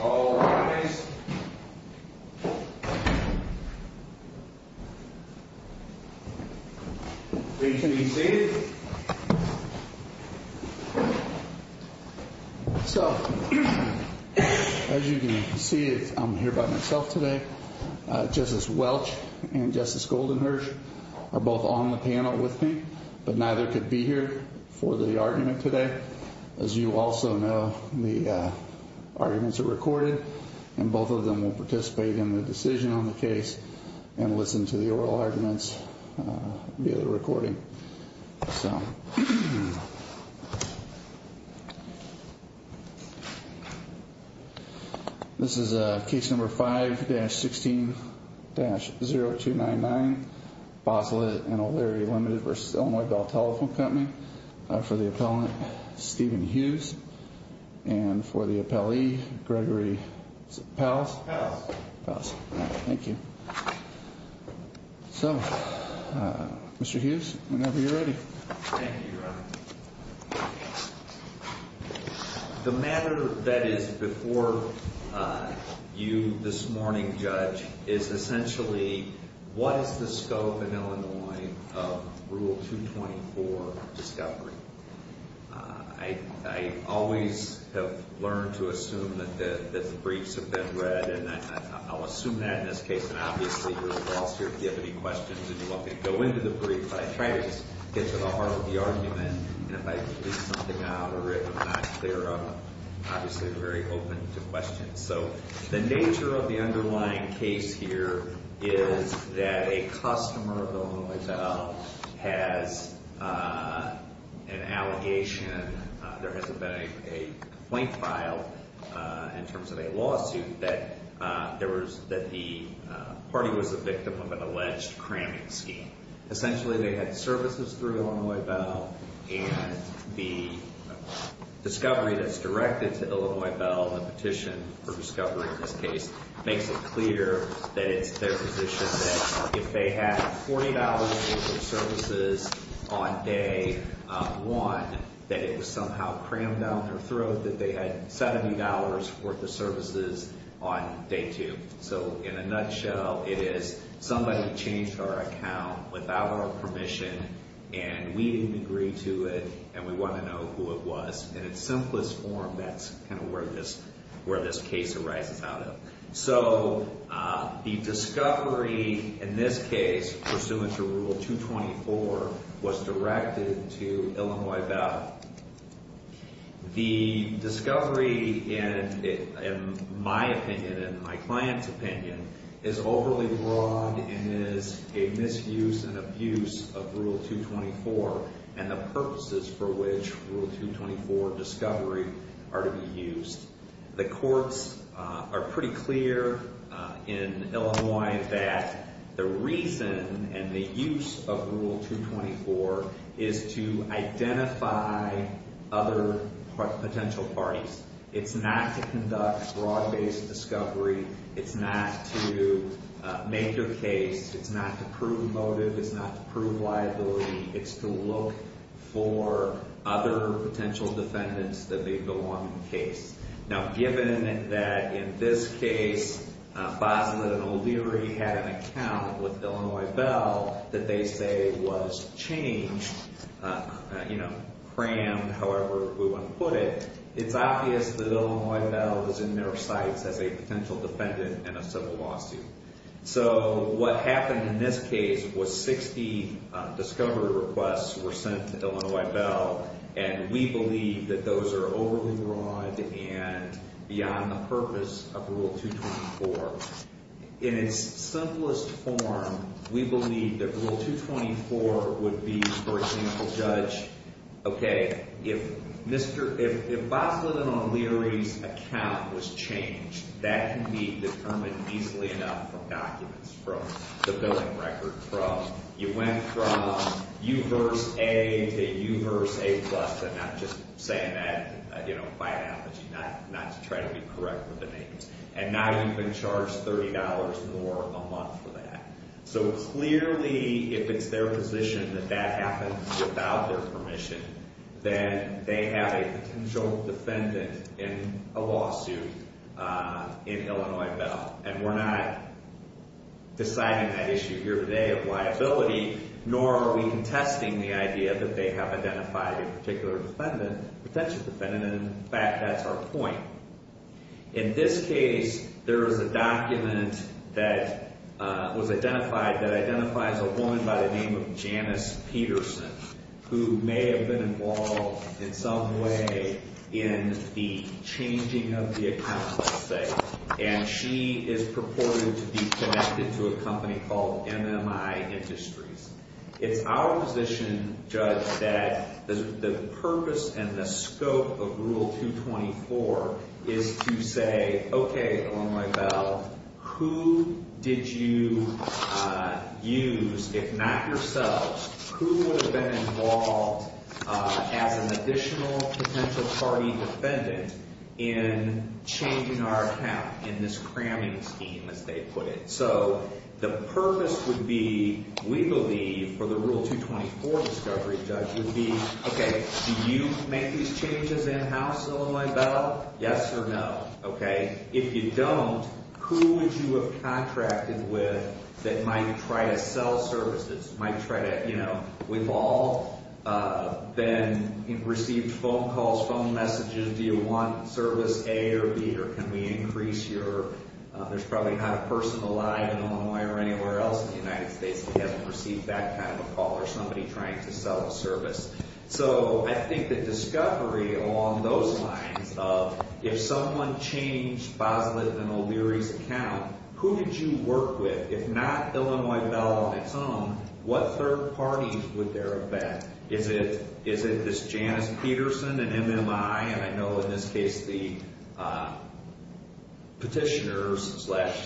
All rise. Please be seated. So, as you can see, I'm here by myself today. Justice Welch and Justice Goldenherz are both on the panel with me, but neither could be here for the argument today. As you also know, the arguments are recorded, and both of them will participate in the decision on the case and listen to the oral arguments via the recording. So, this is case number 5-16-0299, Bosslet & O'Leary, Ltd. v. Illinois Bell Telephone Company, for the appellant, Stephen Hughes, and for the appellee, Gregory Pals. Thank you. So, Mr. Hughes, whenever you're ready. Thank you, Your Honor. The matter that is before you this morning, Judge, is essentially what is the scope in Illinois of Rule 224 discovery. I always have learned to assume that the briefs have been read, and I'll assume that in this case, and obviously you're the boss here if you have any questions, and you're welcome to go into the brief, but I try to just get to the heart of the argument, and if I can leave something out or if I'm not clear, I'm obviously very open to questions. So, the nature of the underlying case here is that a customer of Illinois Bell has an allegation. There hasn't been a complaint filed in terms of a lawsuit that the party was a victim of an alleged cramming scheme. Essentially, they had services through Illinois Bell, and the discovery that's directed to Illinois Bell, the petition for discovery in this case, makes it clear that it's their position that if they had $40 worth of services on day one, that it was somehow crammed down their throat, that they had $70 worth of services on day two. So, in a nutshell, it is somebody changed our account without our permission, and we didn't agree to it, and we want to know who it was. In its simplest form, that's kind of where this case arises out of. So, the discovery in this case, pursuant to Rule 224, was directed to Illinois Bell. The discovery, in my opinion and my client's opinion, is overly broad and is a misuse and abuse of Rule 224 and the purposes for which Rule 224 discovery are to be used. The courts are pretty clear in Illinois that the reason and the use of Rule 224 is to identify other potential parties. It's not to conduct broad-based discovery. It's not to make your case. It's not to prove motive. It's not to prove liability. It's to look for other potential defendants that may belong in the case. Now, given that in this case, Basler and O'Leary had an account with Illinois Bell that they say was changed, you know, crammed, however we want to put it, it's obvious that Illinois Bell was in their sights as a potential defendant in a civil lawsuit. So what happened in this case was 60 discovery requests were sent to Illinois Bell, and we believe that those are overly broad and beyond the purpose of Rule 224. In its simplest form, we believe that Rule 224 would be, for example, judge, okay, if Basler and O'Leary's account was changed, that can be determined easily enough from documents, from the billing record, from you went from U-verse A to U-verse A-plus, and I'm just saying that, you know, by analogy, not to try to be correct with the names. And now you've been charged $30 more a month for that. So clearly, if it's their position that that happened without their permission, then they have a potential defendant in a lawsuit in Illinois Bell, and we're not deciding that issue here today of liability, nor are we contesting the idea that they have identified a particular defendant, a potential defendant, and in fact, that's our point. In this case, there is a document that was identified that identifies a woman by the name of Janice Peterson who may have been involved in some way in the changing of the account, let's say, and she is purported to be connected to a company called MMI Industries. It's our position, judge, that the purpose and the scope of Rule 224 is to say, okay, Illinois Bell, who did you use, if not yourselves, who would have been involved as an additional potential party defendant in changing our account in this cramming scheme, as they put it? So the purpose would be, we believe, for the Rule 224 discovery, judge, would be, okay, do you make these changes in-house in Illinois Bell? Yes or no? Okay. If you don't, who would you have contracted with that might try to sell services, might try to, you know, we've all been, received phone calls, phone messages, do you want service A or B, or can we increase your, there's probably not a person alive in Illinois or anywhere else in the United States that hasn't received that kind of a call or somebody trying to sell a service. So I think the discovery along those lines of, if someone changed Boslett and O'Leary's account, who did you work with, if not Illinois Bell on its own, what third parties would there have been? Is it this Janice Peterson and MMI, and I know in this case the petitioners slash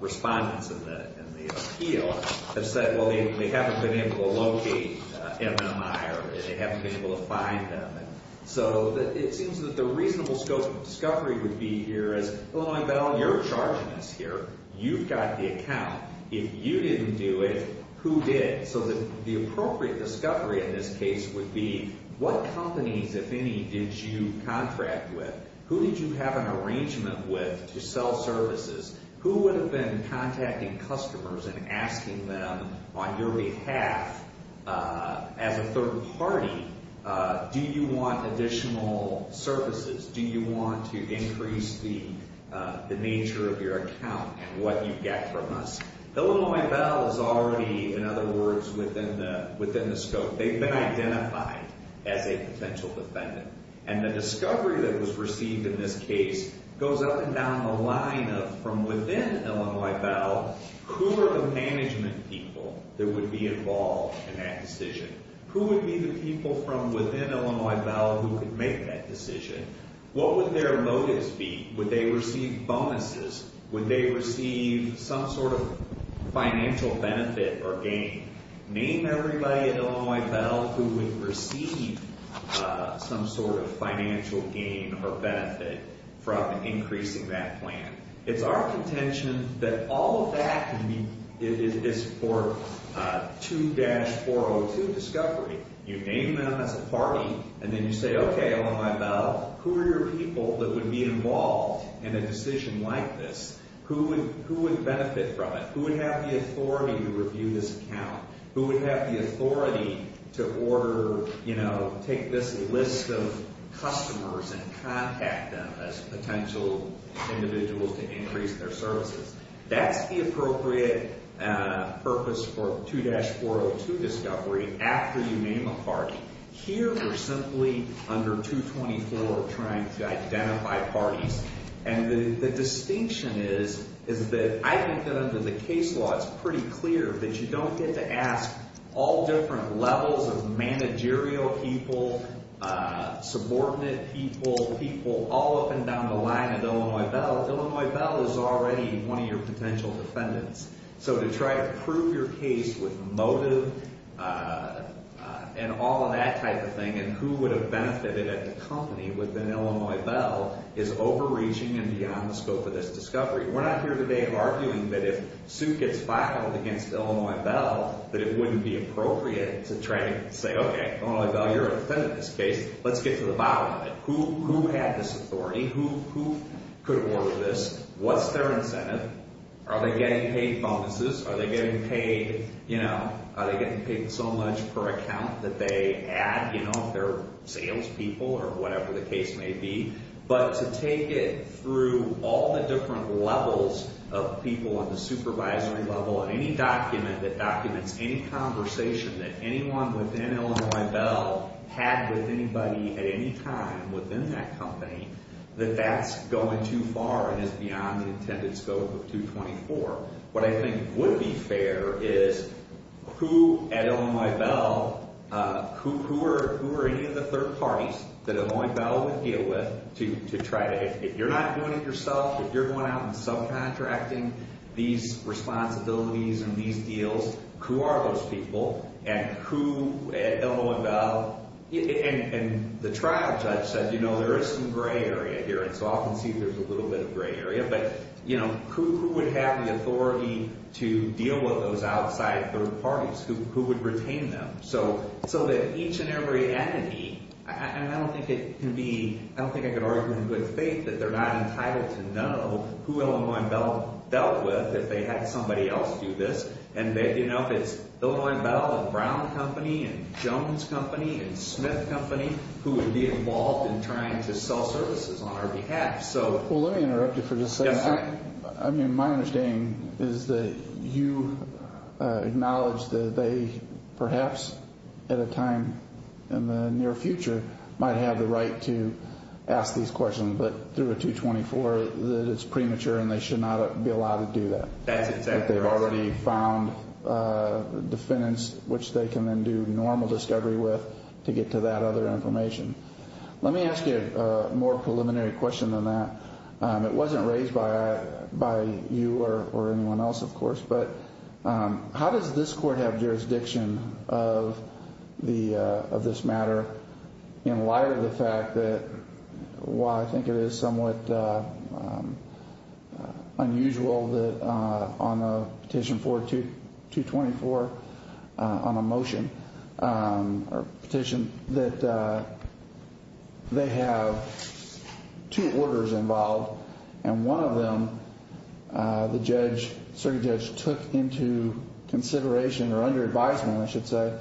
respondents in the appeal have said, well, they haven't been able to locate MMI or they haven't been able to find them. So it seems that the reasonable scope of discovery would be here as, Illinois Bell, you're charging us here. You've got the account. If you didn't do it, who did? So the appropriate discovery in this case would be what companies, if any, did you contract with? Who did you have an arrangement with to sell services? Who would have been contacting customers and asking them on your behalf as a third party, do you want additional services? Do you want to increase the nature of your account and what you get from us? Illinois Bell is already, in other words, within the scope. They've been identified as a potential defendant. And the discovery that was received in this case goes up and down the line of, from within Illinois Bell, who are the management people that would be involved in that decision? Who would be the people from within Illinois Bell who would make that decision? What would their motives be? Would they receive bonuses? Would they receive some sort of financial benefit or gain? Name everybody at Illinois Bell who would receive some sort of financial gain or benefit from increasing that plan. It's our contention that all of that is for 2-402 discovery. You name them as a party, and then you say, okay, Illinois Bell, who are your people that would be involved in a decision like this? Who would benefit from it? Who would have the authority to review this account? Who would have the authority to order, you know, take this list of customers and contact them as potential individuals to increase their services? That's the appropriate purpose for 2-402 discovery after you name a party. Here we're simply under 224 trying to identify parties. And the distinction is that I think that under the case law it's pretty clear that you don't get to ask all different levels of managerial people, subordinate people, people all up and down the line at Illinois Bell. Illinois Bell is already one of your potential defendants. So to try to prove your case with motive and all of that type of thing and who would have benefited at the company within Illinois Bell is overreaching and beyond the scope of this discovery. We're not here today arguing that if suit gets filed against Illinois Bell that it wouldn't be appropriate to try to say, okay, Illinois Bell, you're a defendant in this case. Let's get to the bottom of it. Who had this authority? Who could order this? What's their incentive? Are they getting paid bonuses? Are they getting paid, you know, are they getting paid so much per account that they add, you know, if they're salespeople or whatever the case may be? But to take it through all the different levels of people on the supervisory level and any document that documents any conversation that anyone within Illinois Bell had with anybody at any time within that company, that that's going too far and is beyond the intended scope of 224. What I think would be fair is who at Illinois Bell, who are any of the third parties that Illinois Bell would deal with to try to, if you're not doing it yourself, if you're going out and subcontracting these responsibilities and these deals, who are those people? And who at Illinois Bell, and the trial judge said, you know, there is some gray area here, and so I can see there's a little bit of gray area, but, you know, who would have the authority to deal with those outside third parties? Who would retain them? So that each and every entity, and I don't think it can be, I don't think I could argue in good faith that they're not entitled to know who Illinois Bell dealt with if they had somebody else do this, and, you know, if it's Illinois Bell and Brown Company and Jones Company and Smith Company who would be involved in trying to sell services on our behalf. Well, let me interrupt you for just a second. I mean, my understanding is that you acknowledge that they perhaps at a time in the near future might have the right to ask these questions, but through a 224 that it's premature and they should not be allowed to do that. That's exactly right. That they've already found defendants which they can then do normal discovery with to get to that other information. Let me ask you a more preliminary question than that. It wasn't raised by you or anyone else, of course, but how does this court have jurisdiction of this matter in light of the fact that, while I think it is somewhat unusual that on a petition for 224, on a motion, or petition, that they have two orders involved and one of them the judge, circuit judge, took into consideration or under advisement, I should say,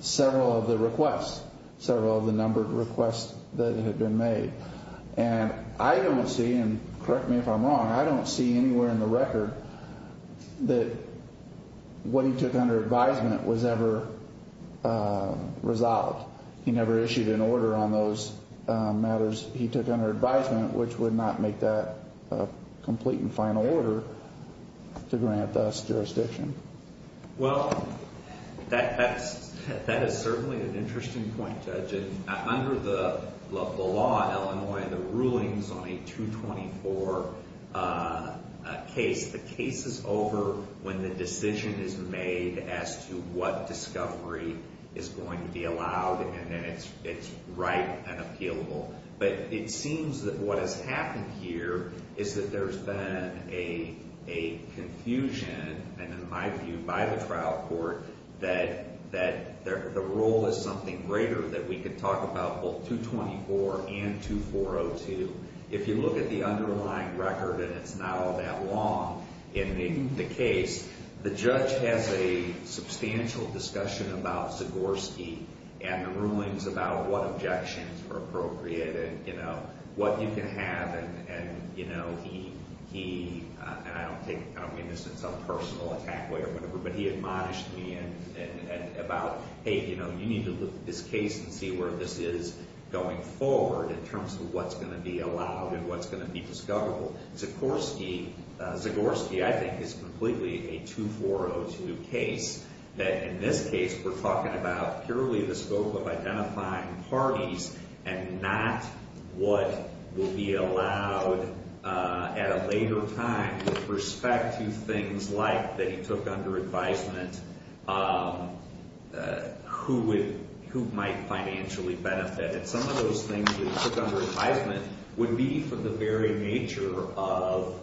several of the requests, several of the numbered requests that had been made. And I don't see, and correct me if I'm wrong, I don't see anywhere in the record that what he took under advisement was ever resolved. He never issued an order on those matters he took under advisement which would not make that a complete and final order to grant us jurisdiction. Well, that is certainly an interesting point, Judge. Under the law in Illinois, the rulings on a 224 case, the case is over when the decision is made as to what discovery is going to be allowed and then it's right and appealable. But it seems that what has happened here is that there's been a confusion, and in my view by the trial court, that the rule is something greater that we could talk about both 224 and 2402. If you look at the underlying record, and it's not all that long, in the case, the judge has a substantial discussion about Sigorski and the rulings about what objections were appropriated, you know, what you can have and, you know, he, I don't mean this in some personal attack way or whatever, but he admonished me about, hey, you know, let's look at this case and see where this is going forward in terms of what's going to be allowed and what's going to be discoverable. Sigorski, I think, is completely a 2402 case. In this case, we're talking about purely the scope of identifying parties and not what will be allowed at a later time with respect to things like that he took under advisement who might financially benefit. And some of those things that he took under advisement would be for the very nature of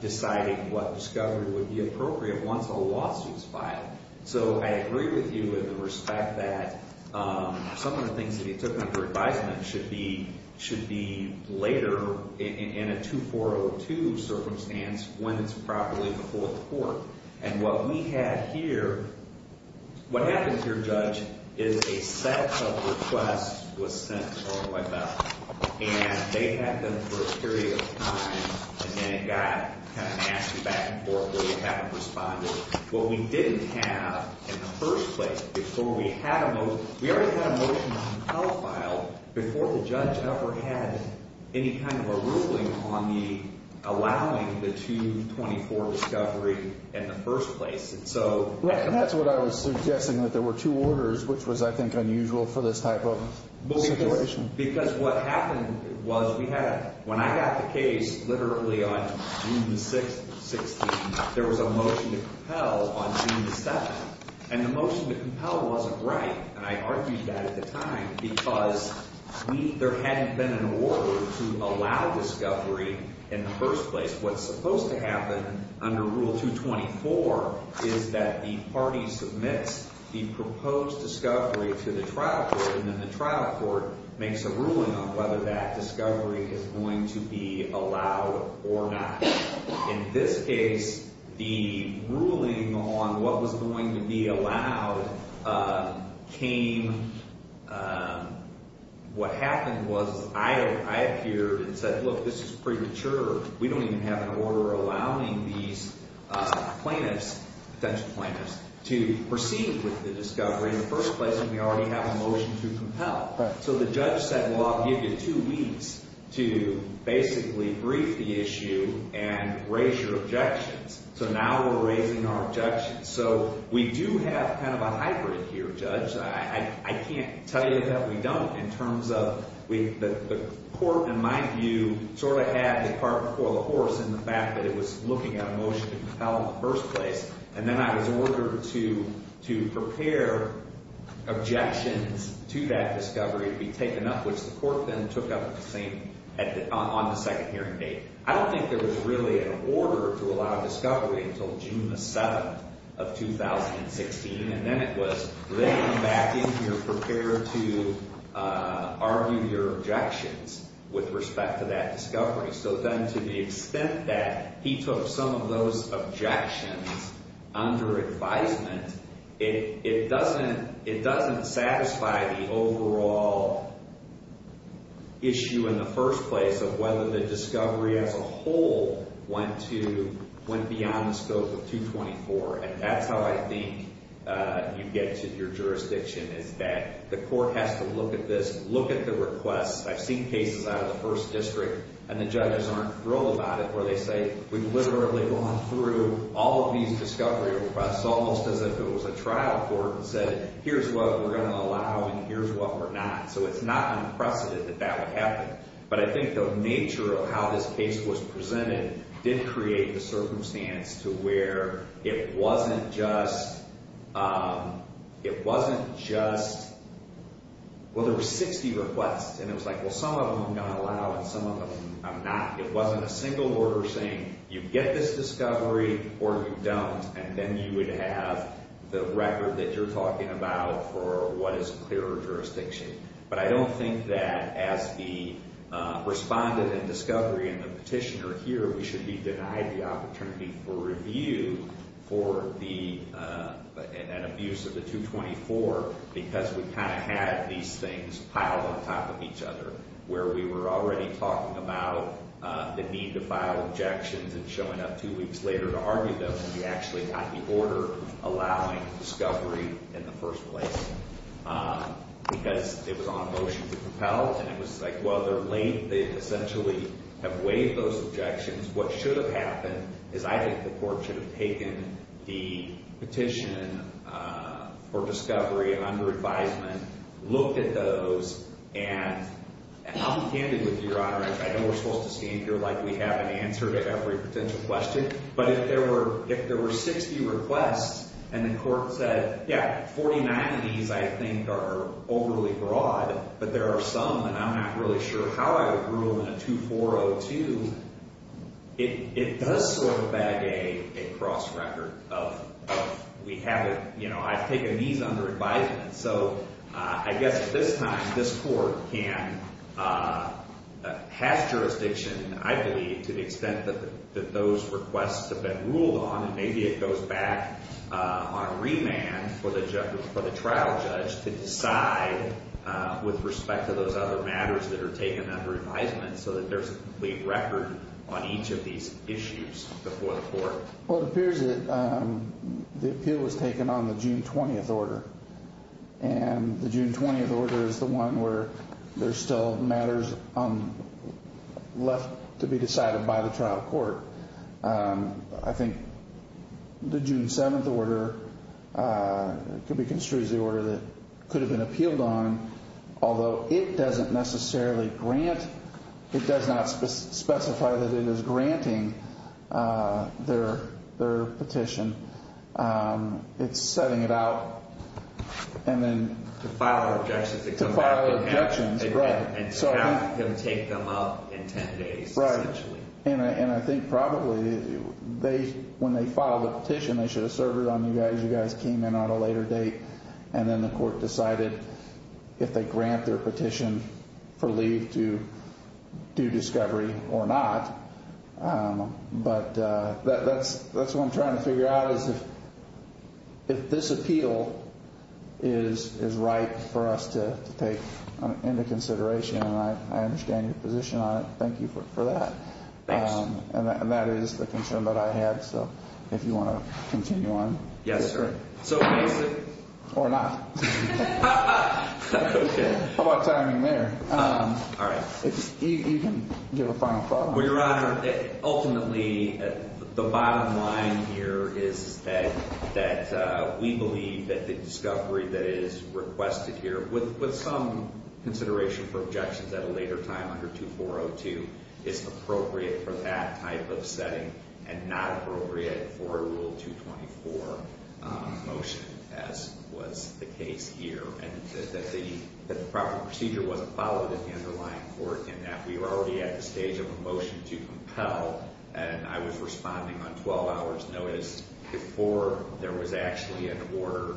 deciding what discovery would be appropriate once a lawsuit is filed. So I agree with you in the respect that some of the things that he took under advisement should be later in a 2402 circumstance when it's properly before the court. And what we have here, what happens here, Judge, is a set of requests was sent to OLL. And they had them for a period of time, and then it got kind of nasty back and forth where they haven't responded. What we didn't have in the first place before we had a motion, we already had a motion to file before the judge ever had any kind of a ruling on allowing the 224 discovery in the first place. And so that's what I was suggesting, that there were two orders, which was, I think, unusual for this type of situation. Because what happened was when I got the case literally on June the 16th, there was a motion to compel on June the 7th. And the motion to compel wasn't right, and I argued that at the time, because there hadn't been an order to allow discovery in the first place. What's supposed to happen under Rule 224 is that the party submits the proposed discovery to the trial court, and then the trial court makes a ruling on whether that discovery is going to be allowed or not. In this case, the ruling on what was going to be allowed came. What happened was I appeared and said, look, this is premature. We don't even have an order allowing these plaintiffs, potential plaintiffs, to proceed with the discovery in the first place, and we already have a motion to compel. So the judge said, well, I'll give you two weeks to basically brief the issue and raise your objections. So now we're raising our objections. So we do have kind of a hybrid here, Judge. I can't tell you that we don't in terms of the court, in my view, sort of had the cart before the horse in the fact that it was looking at a motion to compel in the first place, and then I was ordered to prepare objections to that discovery to be taken up, which the court then took up on the second hearing date. I don't think there was really an order to allow discovery until June the 7th of 2016, and then it was they come back in here prepared to argue your objections with respect to that discovery. So then to the extent that he took some of those objections under advisement, it doesn't satisfy the overall issue in the first place of whether the discovery as a whole went beyond the scope of 224, and that's how I think you get to your jurisdiction is that the court has to look at this, look at the requests. I've seen cases out of the first district, and the judges aren't thrilled about it where they say, we've literally gone through all of these discovery requests almost as if it was a trial court and said, here's what we're going to allow and here's what we're not. So it's not unprecedented that that would happen. But I think the nature of how this case was presented did create the circumstance to where it wasn't just, well, there were 60 requests, and it was like, well, some of them I'm going to allow and some of them I'm not. It wasn't a single order saying you get this discovery or you don't, and then you would have the record that you're talking about for what is a clearer jurisdiction. But I don't think that as the respondent in discovery and the petitioner here, we should be denied the opportunity for review for an abuse of the 224 because we kind of had these things piled on top of each other where we were already talking about the need to file objections and showing up two weeks later to argue those, and we actually got the order allowing discovery in the first place. Because it was on a motion to propel, and it was like, well, they're late. They essentially have waived those objections. What should have happened is I think the court should have taken the petition for discovery under advisement, looked at those, and I'll be candid with you, Your Honor. I know we're supposed to stand here like we have an answer to every potential question, but if there were 60 requests and the court said, yeah, 49 of these I think are overly broad, but there are some that I'm not really sure how I would rule in a 2402, it does sort of bag a cross-record of we haven't, you know, I've taken these under advisement. So I guess at this time, this court can have jurisdiction, I believe, to the extent that those requests have been ruled on, and maybe it goes back on remand for the trial judge to decide with respect to those other matters that are taken under advisement so that there's a complete record on each of these issues before the court. Well, it appears that the appeal was taken on the June 20th order, and the June 20th order is the one where there's still matters left to be decided by the trial court. I think the June 7th order could be construed as the order that could have been appealed on, although it doesn't necessarily grant, it does not specify that it is granting their petition. It's setting it out, and then to file objections. To file objections, right. And to have him take them up in 10 days, essentially. Right. And I think probably they, when they filed the petition, they should have served it on you guys. You guys came in on a later date, and then the court decided if they grant their petition for leave to do discovery or not. But that's what I'm trying to figure out is if this appeal is right for us to take into consideration, and I understand your position on it. Thank you for that. Thanks. And that is the concern that I have. So if you want to continue on. Yes, sir. So basically. Or not. How about timing there? All right. You can give a final thought. Well, Your Honor, ultimately the bottom line here is that we believe that the discovery that is requested here, with some consideration for objections at a later time under 2402, is appropriate for that type of setting and not appropriate for Rule 224 motion, as was the case here. And that the proper procedure wasn't followed in the underlying court, and that we were already at the stage of a motion to compel. And I was responding on 12 hours' notice before there was actually an order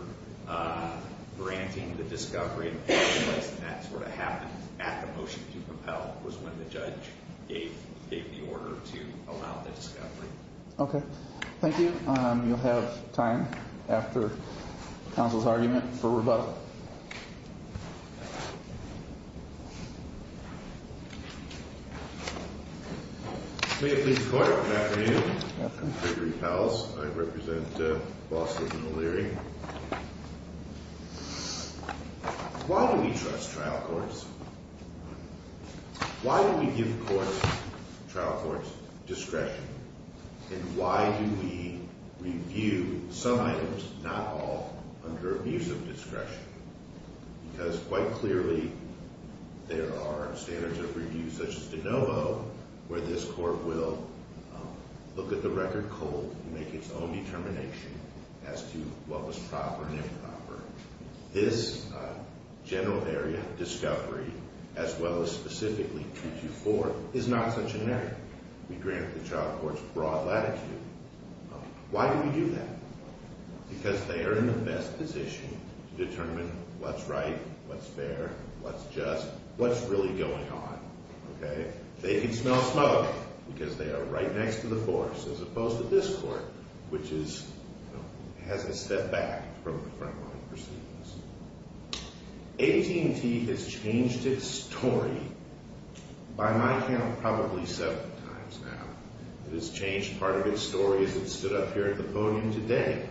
granting the discovery. And that sort of happened at the motion to compel was when the judge gave the order to allow the discovery. Okay. Thank you. You'll have time after counsel's argument for rebuttal. May it please the Court. Good afternoon. Good afternoon. Gregory Powles. I represent Boston and O'Leary. Why do we trust trial courts? Why do we give courts, trial courts, discretion? And why do we review some items, not all, under abuse of discretion? Because quite clearly, there are standards of review such as de novo, where this court will look at the record cold and make its own determination as to what was proper and improper. This general area of discovery, as well as specifically 224, is not such an area. We grant the trial courts broad latitude. Why do we do that? Because they are in the best position to determine what's right, what's fair, what's just, what's really going on. Okay. They can smell smoke because they are right next to the force, as opposed to this court, which is, you know, has a step back from the front line proceedings. AT&T has changed its story, by my count, probably seven times now. It has changed part of its story, as it stood up here at the podium today.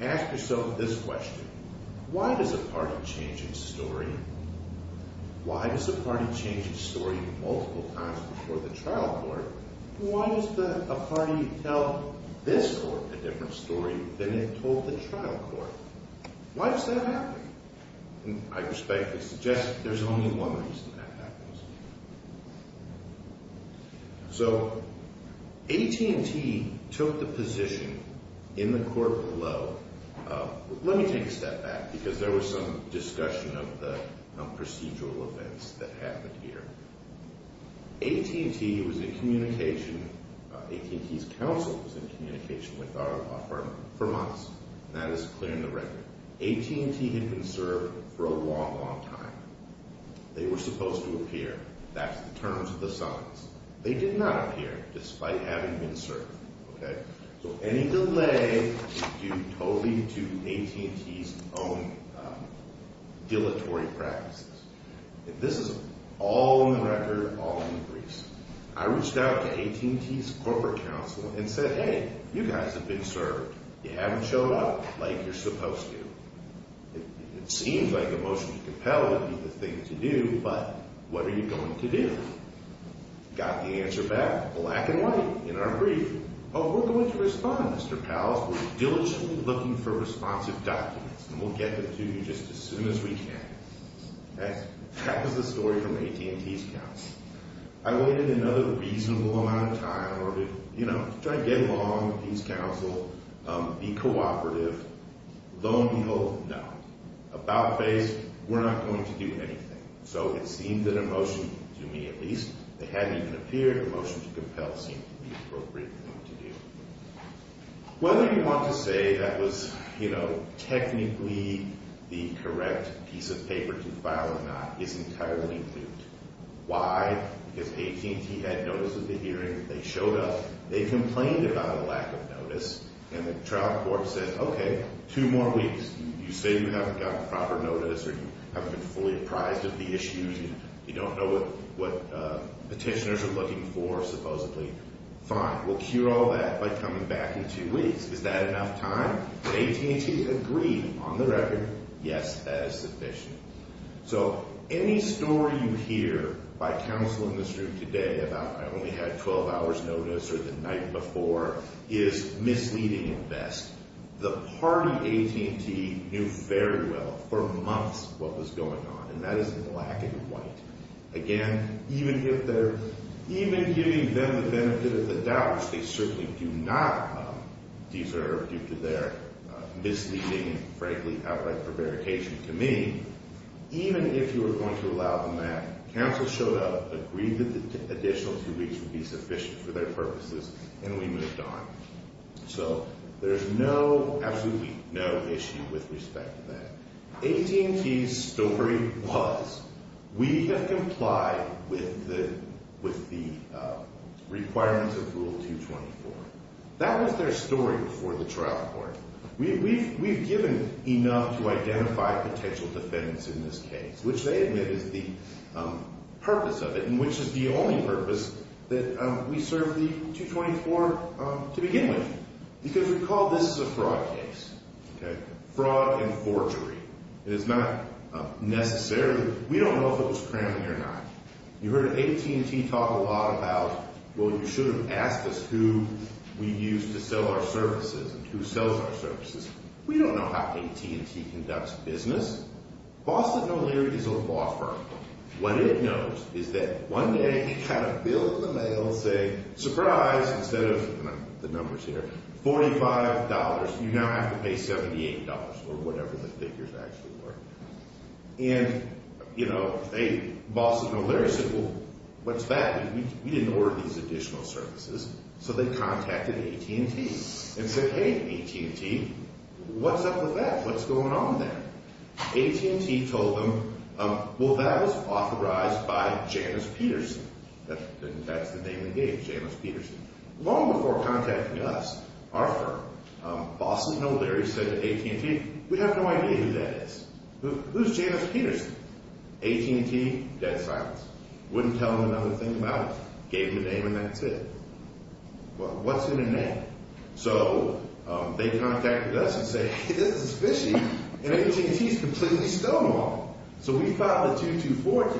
Ask yourself this question. Why does a party change its story? Why does a party change its story multiple times before the trial court? Why does a party tell this court a different story than it told the trial court? Why does that happen? And I respectfully suggest there's only one reason that happens. So, AT&T took the position in the court below. Let me take a step back, because there was some discussion of the procedural events that happened here. AT&T was in communication, AT&T's counsel was in communication with our firm for months, and that is clearing the record. AT&T had been served for a long, long time. They were supposed to appear. That's the terms of the summons. They did not appear, despite having been served. Okay. So any delay is due totally to AT&T's own dilatory practices. This is all in the record, all in the briefs. I reached out to AT&T's corporate counsel and said, hey, you guys have been served. You haven't showed up like you're supposed to. It seems like emotionally compelled would be the thing to do, but what are you going to do? Got the answer back, black and white, in our brief. Oh, we're going to respond, Mr. Powles. We're diligently looking for responsive documents, and we'll get them to you just as soon as we can. That was the story from AT&T's counsel. I waited another reasonable amount of time in order to, you know, try to get along with his counsel, be cooperative. Low and behold, no. About face, we're not going to do anything. So it seemed that emotion, to me at least, they hadn't even appeared. Emotion to compel seemed to be the appropriate thing to do. Whether you want to say that was, you know, technically the correct piece of paper to file or not is entirely moot. Why? Because AT&T had notice of the hearing. They showed up. They complained about a lack of notice, and the trial court said, okay, two more weeks. You say you haven't gotten proper notice or you haven't been fully apprised of the issues. You don't know what petitioners are looking for, supposedly. Fine. We'll cure all that by coming back in two weeks. Is that enough time? AT&T agreed on the record, yes, that is sufficient. So any story you hear by counsel in this room today about I only had 12 hours notice or the night before is misleading at best. The party AT&T knew very well for months what was going on, and that is black and white. Again, even giving them the benefit of the doubt, which they certainly do not deserve due to their misleading and frankly outright prevarication to me, even if you were going to allow them that, counsel showed up, agreed that the additional two weeks would be sufficient for their purposes, and we moved on. So there's no, absolutely no issue with respect to that. AT&T's story was we have complied with the requirements of Rule 224. That was their story before the trial court. We've given enough to identify potential defendants in this case, which they admit is the purpose of it, and which is the only purpose that we served the 224 to begin with, because recall this is a fraud case. Fraud and forgery. It's not necessarily, we don't know if it was cramming or not. You heard AT&T talk a lot about, well, you should have asked us who we use to sell our services and who sells our services. We don't know how AT&T conducts business. Boston & O'Leary is a law firm. What it knows is that one day it kind of billed the mail saying, surprise, instead of the numbers here, $45, you now have to pay $78, or whatever the figures actually were. And, you know, Boston & O'Leary said, well, what's that? We didn't order these additional services. So they contacted AT&T and said, hey, AT&T, what's up with that? What's going on there? AT&T told them, well, that was authorized by Janice Peterson. That's the name they gave, Janice Peterson. Long before contacting us, our firm, Boston & O'Leary said to AT&T, we have no idea who that is. Who's Janice Peterson? AT&T, dead silence. Wouldn't tell them another thing about it. Gave them a name and that's it. Well, what's in a name? So they contacted us and said, hey, this is fishy. And AT&T is completely stonewalled. So we filed a 224 to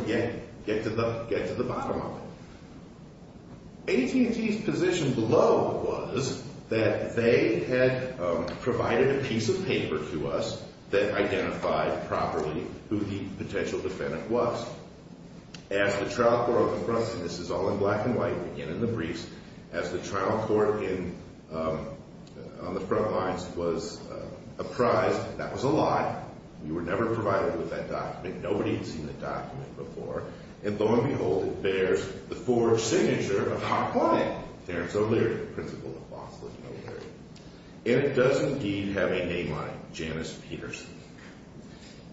get to the bottom of it. AT&T's position below was that they had provided a piece of paper to us that identified properly who the potential defendant was. As the trial court, and this is all in black and white, again in the briefs, as the trial court on the front lines was apprised, that was a lie. We were never provided with that document. Nobody had seen that document before. And lo and behold, there's the forged signature of our client, Terence O'Leary, principal of Boston & O'Leary. And it does indeed have a name on it, Janice Peterson.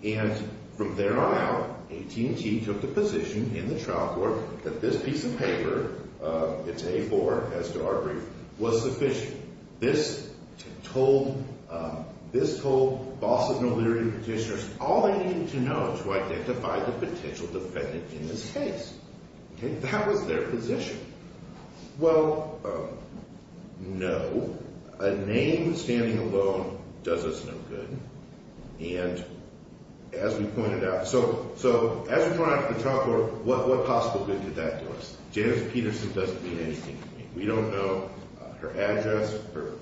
And from there on out, AT&T took the position in the trial court that this piece of paper, it's A4 as to our brief, was sufficient. This told Boston & O'Leary petitioners all they needed to know to identify the potential defendant in this case. That was their position. Well, no. A name standing alone does us no good. And as we pointed out, so as we point out to the trial court, what possible good did that do us? Janice Peterson doesn't mean anything to me. We don't know her address,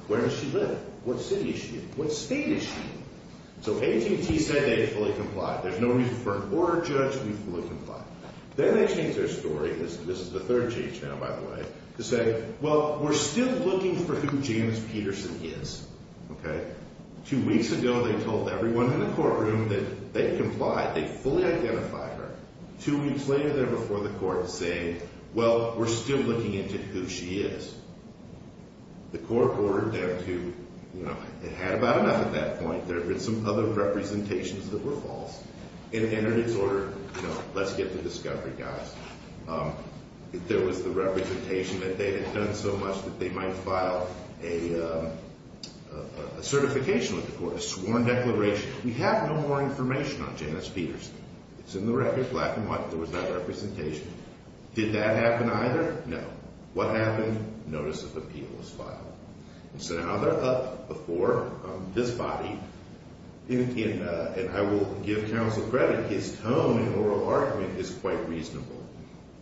where does she live, what city is she in, what state is she in? So AT&T said they fully complied. There's no reason for an order to judge if we fully complied. Then they changed their story. This is the third change now, by the way, to say, well, we're still looking for who Janice Peterson is, okay? Two weeks ago, they told everyone in the courtroom that they complied. They fully identified her. Two weeks later, they're before the court saying, well, we're still looking into who she is. The court ordered them to, you know, it had about enough at that point. There had been some other representations that were false. It entered its order, you know, let's get to discovery, guys. There was the representation that they had done so much that they might file a certification with the court, a sworn declaration. We have no more information on Janice Peterson. It's in the record, black and white. There was no representation. Did that happen either? No. What happened? Notice of appeal was filed. So now they're up before this body, and I will give counsel credit. His tone and oral argument is quite reasonable,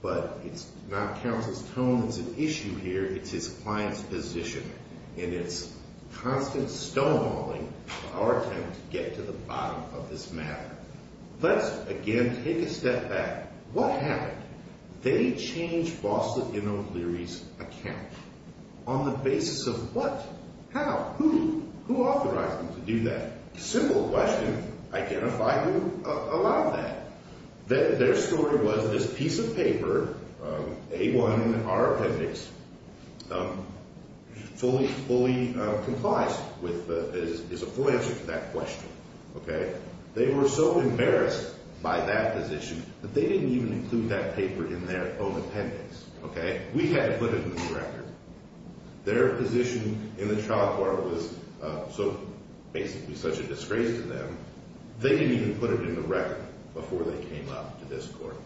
but it's not counsel's tone that's an issue here. It's his client's position, and it's constant stonewalling of our attempt to get to the bottom of this matter. Let's, again, take a step back. What happened? They changed Bossa-Leno Leary's account. On the basis of what? How? Who? Who authorized them to do that? Simple question. Identify who allowed that. Their story was this piece of paper, A1 in our appendix, fully complies with, is a full answer to that question, okay? They were so embarrassed by that position that they didn't even include that paper in their own appendix, okay? We had to put it in the record. Their position in the trial court was so basically such a disgrace to them, they didn't even put it in the record before they came up to this court.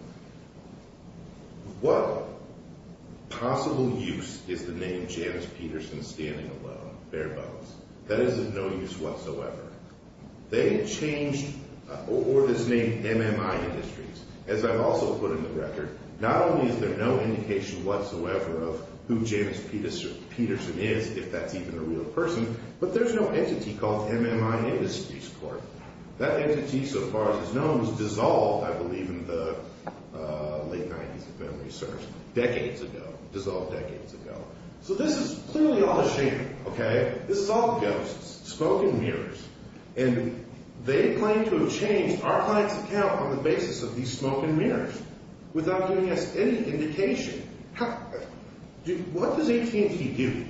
What possible use is the name Janice Peterson standing alone, bare bones? That is of no use whatsoever. They changed, or this name MMI Industries, as I've also put in the record. Not only is there no indication whatsoever of who Janice Peterson is, if that's even a real person, but there's no entity called MMI Industries Court. That entity, so far as it's known, was dissolved, I believe, in the late 90s, if memory serves, decades ago. Dissolved decades ago. So this is clearly all a sham, okay? This is all ghosts, smoke and mirrors. And they claim to have changed our client's account on the basis of these smoke and mirrors without giving us any indication. What does AT&T do?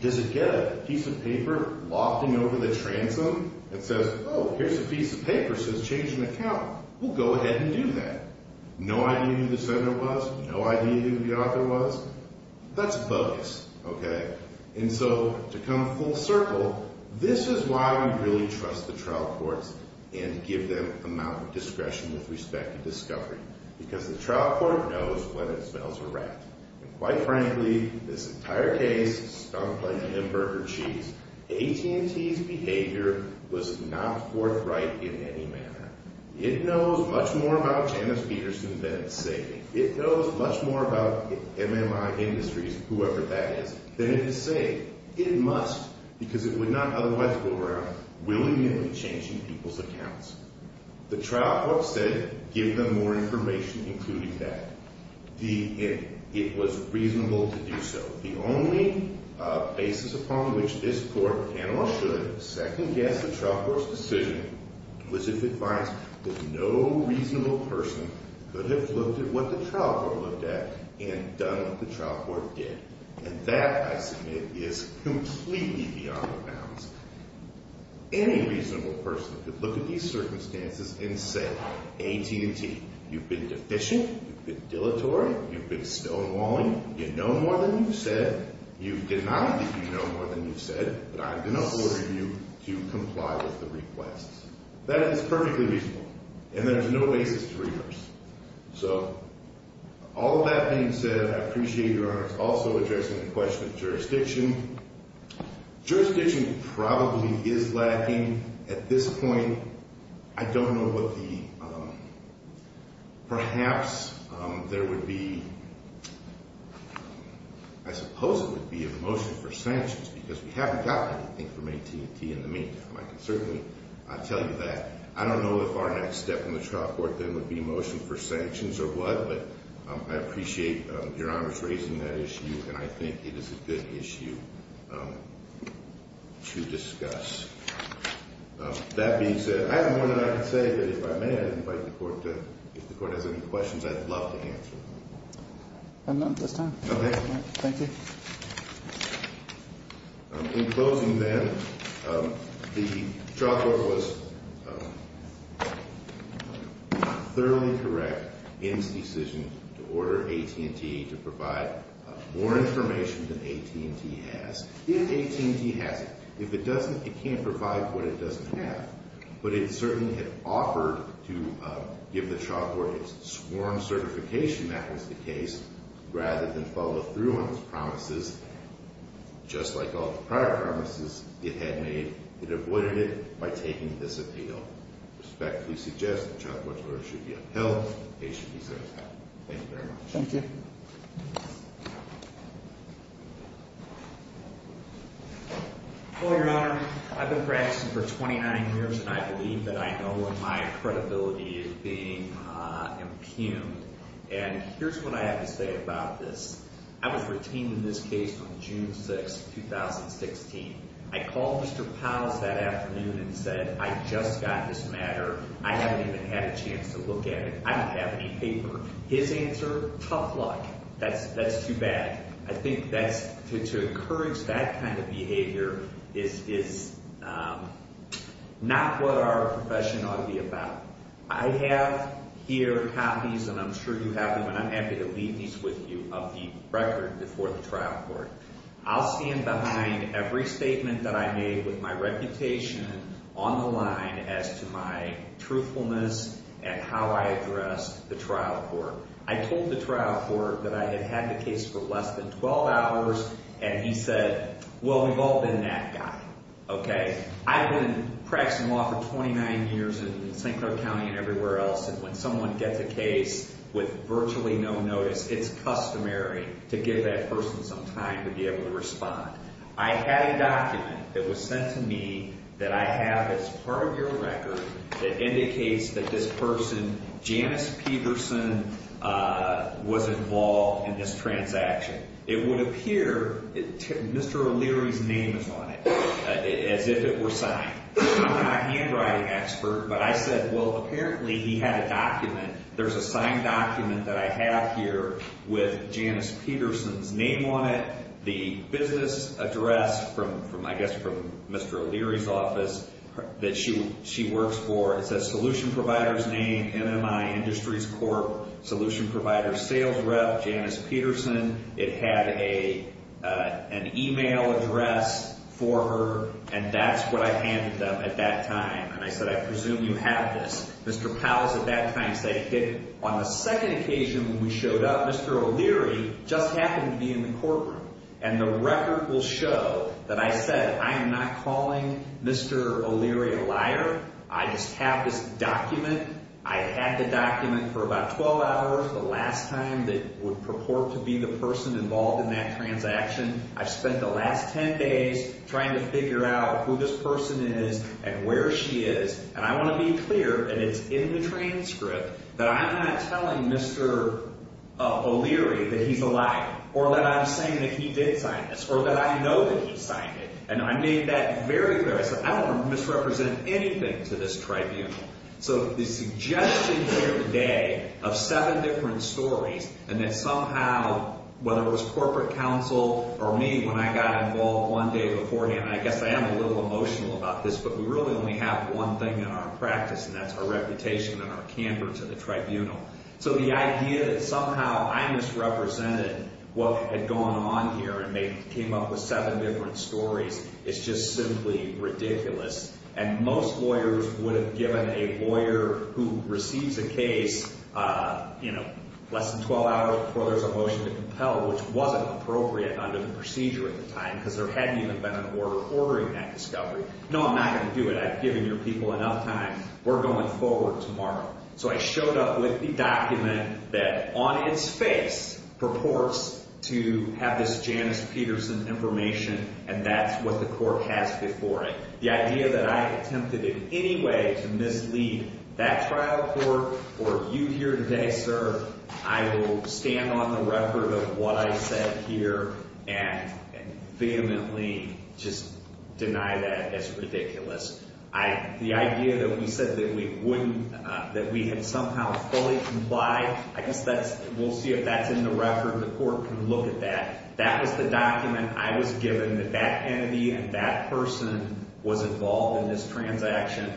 Does it get a piece of paper lofting over the transom that says, oh, here's a piece of paper that says change an account? We'll go ahead and do that. No idea who the sender was? No idea who the author was? That's bogus, okay? And so, to come full circle, this is why we really trust the trial courts and give them amount of discretion with respect to discovery. Because the trial court knows when it smells a rat. And quite frankly, this entire case, stumped like a hamburger cheese. AT&T's behavior was not forthright in any manner. It knows much more about Janice Peterson than it's saying. It knows much more about MMI Industries, whoever that is, than it is saying. It must, because it would not otherwise go around willingly changing people's accounts. The trial court said, give them more information including that. It was reasonable to do so. The only basis upon which this court can or should second guess the trial court's decision was if it finds that no reasonable person could have looked at what the trial court looked at and done what the trial court did. And that, I submit, is completely beyond the bounds. Any reasonable person could look at these circumstances and say, AT&T, you've been deficient. You've been dilatory. You've been stonewalling. You know more than you've said. You've denied that you know more than you've said, but I'm going to order you to comply with the request. That is perfectly reasonable, and there's no basis to reverse. So all that being said, I appreciate Your Honor's also addressing the question of jurisdiction. Jurisdiction probably is lacking at this point. I don't know what the, perhaps there would be, I suppose it would be a motion for Sanchez, because we haven't got anything from AT&T in the meantime. I can certainly tell you that. I don't know if our next step in the trial court then would be a motion for Sanchez or what, but I appreciate Your Honor's raising that issue, and I think it is a good issue to discuss. That being said, I have more than I can say, but if I may, I'd invite the court to, if the court has any questions, I'd love to answer them. If not, that's fine. Okay. Thank you. In closing then, the trial court was thoroughly correct in its decision to order AT&T to provide more information than AT&T has. If AT&T has it, if it doesn't, it can't provide what it doesn't have. But it certainly had offered to give the trial court its sworn certification, that was the case, rather than follow through on its promises. Just like all the prior promises it had made, it avoided it by taking this appeal. Respectfully suggest the trial court's order should be upheld. The case should be certified. Thank you very much. Thank you. Hello, Your Honor. I've been practicing for 29 years, and I believe that I know when my credibility is being impugned. And here's what I have to say about this. I was retained in this case from June 6, 2016. I called Mr. Powles that afternoon and said, I just got this matter. I haven't even had a chance to look at it. I don't have any paper. His answer, tough luck. That's too bad. I think to encourage that kind of behavior is not what our profession ought to be about. I have here copies, and I'm sure you have them, and I'm happy to leave these with you, of the record before the trial court. I'll see him behind every statement that I made with my reputation on the line as to my truthfulness and how I address the trial court. I told the trial court that I had had the case for less than 12 hours, and he said, well, we've all been that guy, okay? I've been practicing law for 29 years in St. Clair County and everywhere else, and when someone gets a case with virtually no notice, it's customary to give that person some time to be able to respond. I had a document that was sent to me that I have as part of your record that indicates that this person, Janice Peterson, was involved in this transaction. It would appear Mr. O'Leary's name is on it, as if it were signed. I'm not a handwriting expert, but I said, well, apparently he had a document. There's a signed document that I have here with Janice Peterson's name on it, the business address from, I guess, from Mr. O'Leary's office that she works for. It says solution provider's name, MMI Industries Corp, solution provider sales rep, Janice Peterson. It had an email address for her, and that's what I handed them at that time, and I said, I presume you have this. Mr. Powles at that time said, hey, on the second occasion when we showed up, Mr. O'Leary just happened to be in the courtroom, and the record will show that I said I am not calling Mr. O'Leary a liar. I just have this document. I had the document for about 12 hours the last time that would purport to be the person involved in that transaction. I've spent the last 10 days trying to figure out who this person is and where she is, and I want to be clear, and it's in the transcript, that I'm not telling Mr. O'Leary that he's a liar or that I'm saying that he did sign this or that I know that he signed it, and I made that very clear. I said I don't want to misrepresent anything to this tribunal, so the suggestion here today of seven different stories and that somehow whether it was corporate counsel or me when I got involved one day beforehand, and I guess I am a little emotional about this, but we really only have one thing in our practice, and that's our reputation and our candor to the tribunal. So the idea that somehow I misrepresented what had gone on here and came up with seven different stories is just simply ridiculous, and most lawyers would have given a lawyer who receives a case less than 12 hours before there's a motion to compel, which wasn't appropriate under the procedure at the time because there hadn't even been an order ordering that discovery. No, I'm not going to do it. I've given your people enough time. We're going forward tomorrow. So I showed up with the document that on its face purports to have this Janice Peterson information, and that's what the court has before it. The idea that I attempted in any way to mislead that trial court or you here today, sir, I will stand on the record of what I said here and vehemently just deny that as ridiculous. The idea that we said that we had somehow fully complied, I guess we'll see if that's in the record. The court can look at that. That was the document I was given that that entity and that person was involved in this transaction,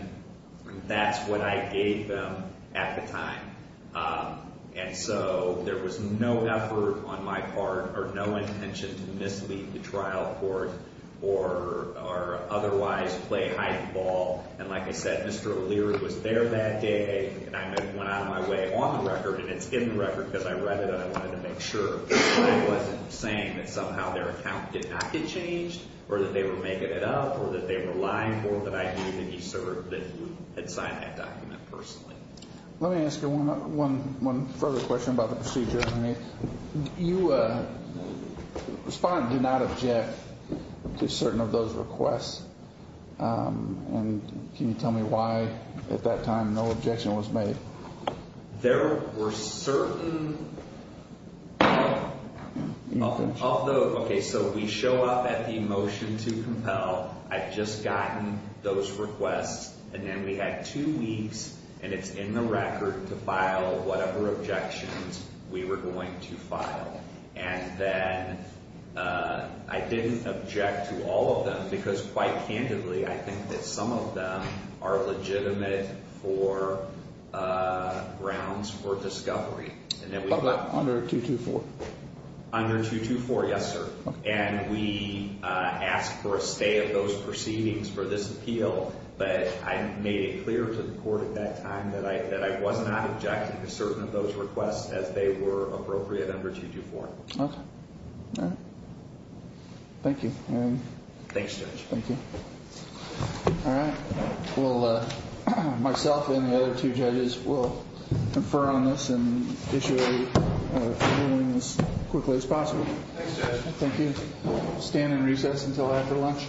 and that's what I gave them at the time. And so there was no effort on my part or no intention to mislead the trial court or otherwise play hide and ball. And like I said, Mr. O'Leary was there that day, and I went out of my way on the record, and it's in the record because I read it and I wanted to make sure I wasn't saying that somehow their account did not get changed or that they were making it up or that they were lying or that I didn't think he served that he had signed that document personally. Let me ask you one further question about the procedure. You respond and do not object to certain of those requests, and can you tell me why at that time no objection was made? There were certain of those. Okay, so we show up at the motion to compel. I've just gotten those requests, and then we had two weeks, and it's in the record to file whatever objections we were going to file. And then I didn't object to all of them because quite candidly, I think that some of them are legitimate for grounds for discovery. Under 224? Under 224, yes, sir. And we asked for a stay of those proceedings for this appeal, but I made it clear to the court at that time that I was not objecting to certain of those requests as they were appropriate under 224. Okay. All right. Thank you. Thanks, Judge. Thank you. All right. Well, myself and the other two judges will confer on this and issue a ruling as quickly as possible. Thanks, Judge. Thank you. We'll stand in recess until after lunch. All rise.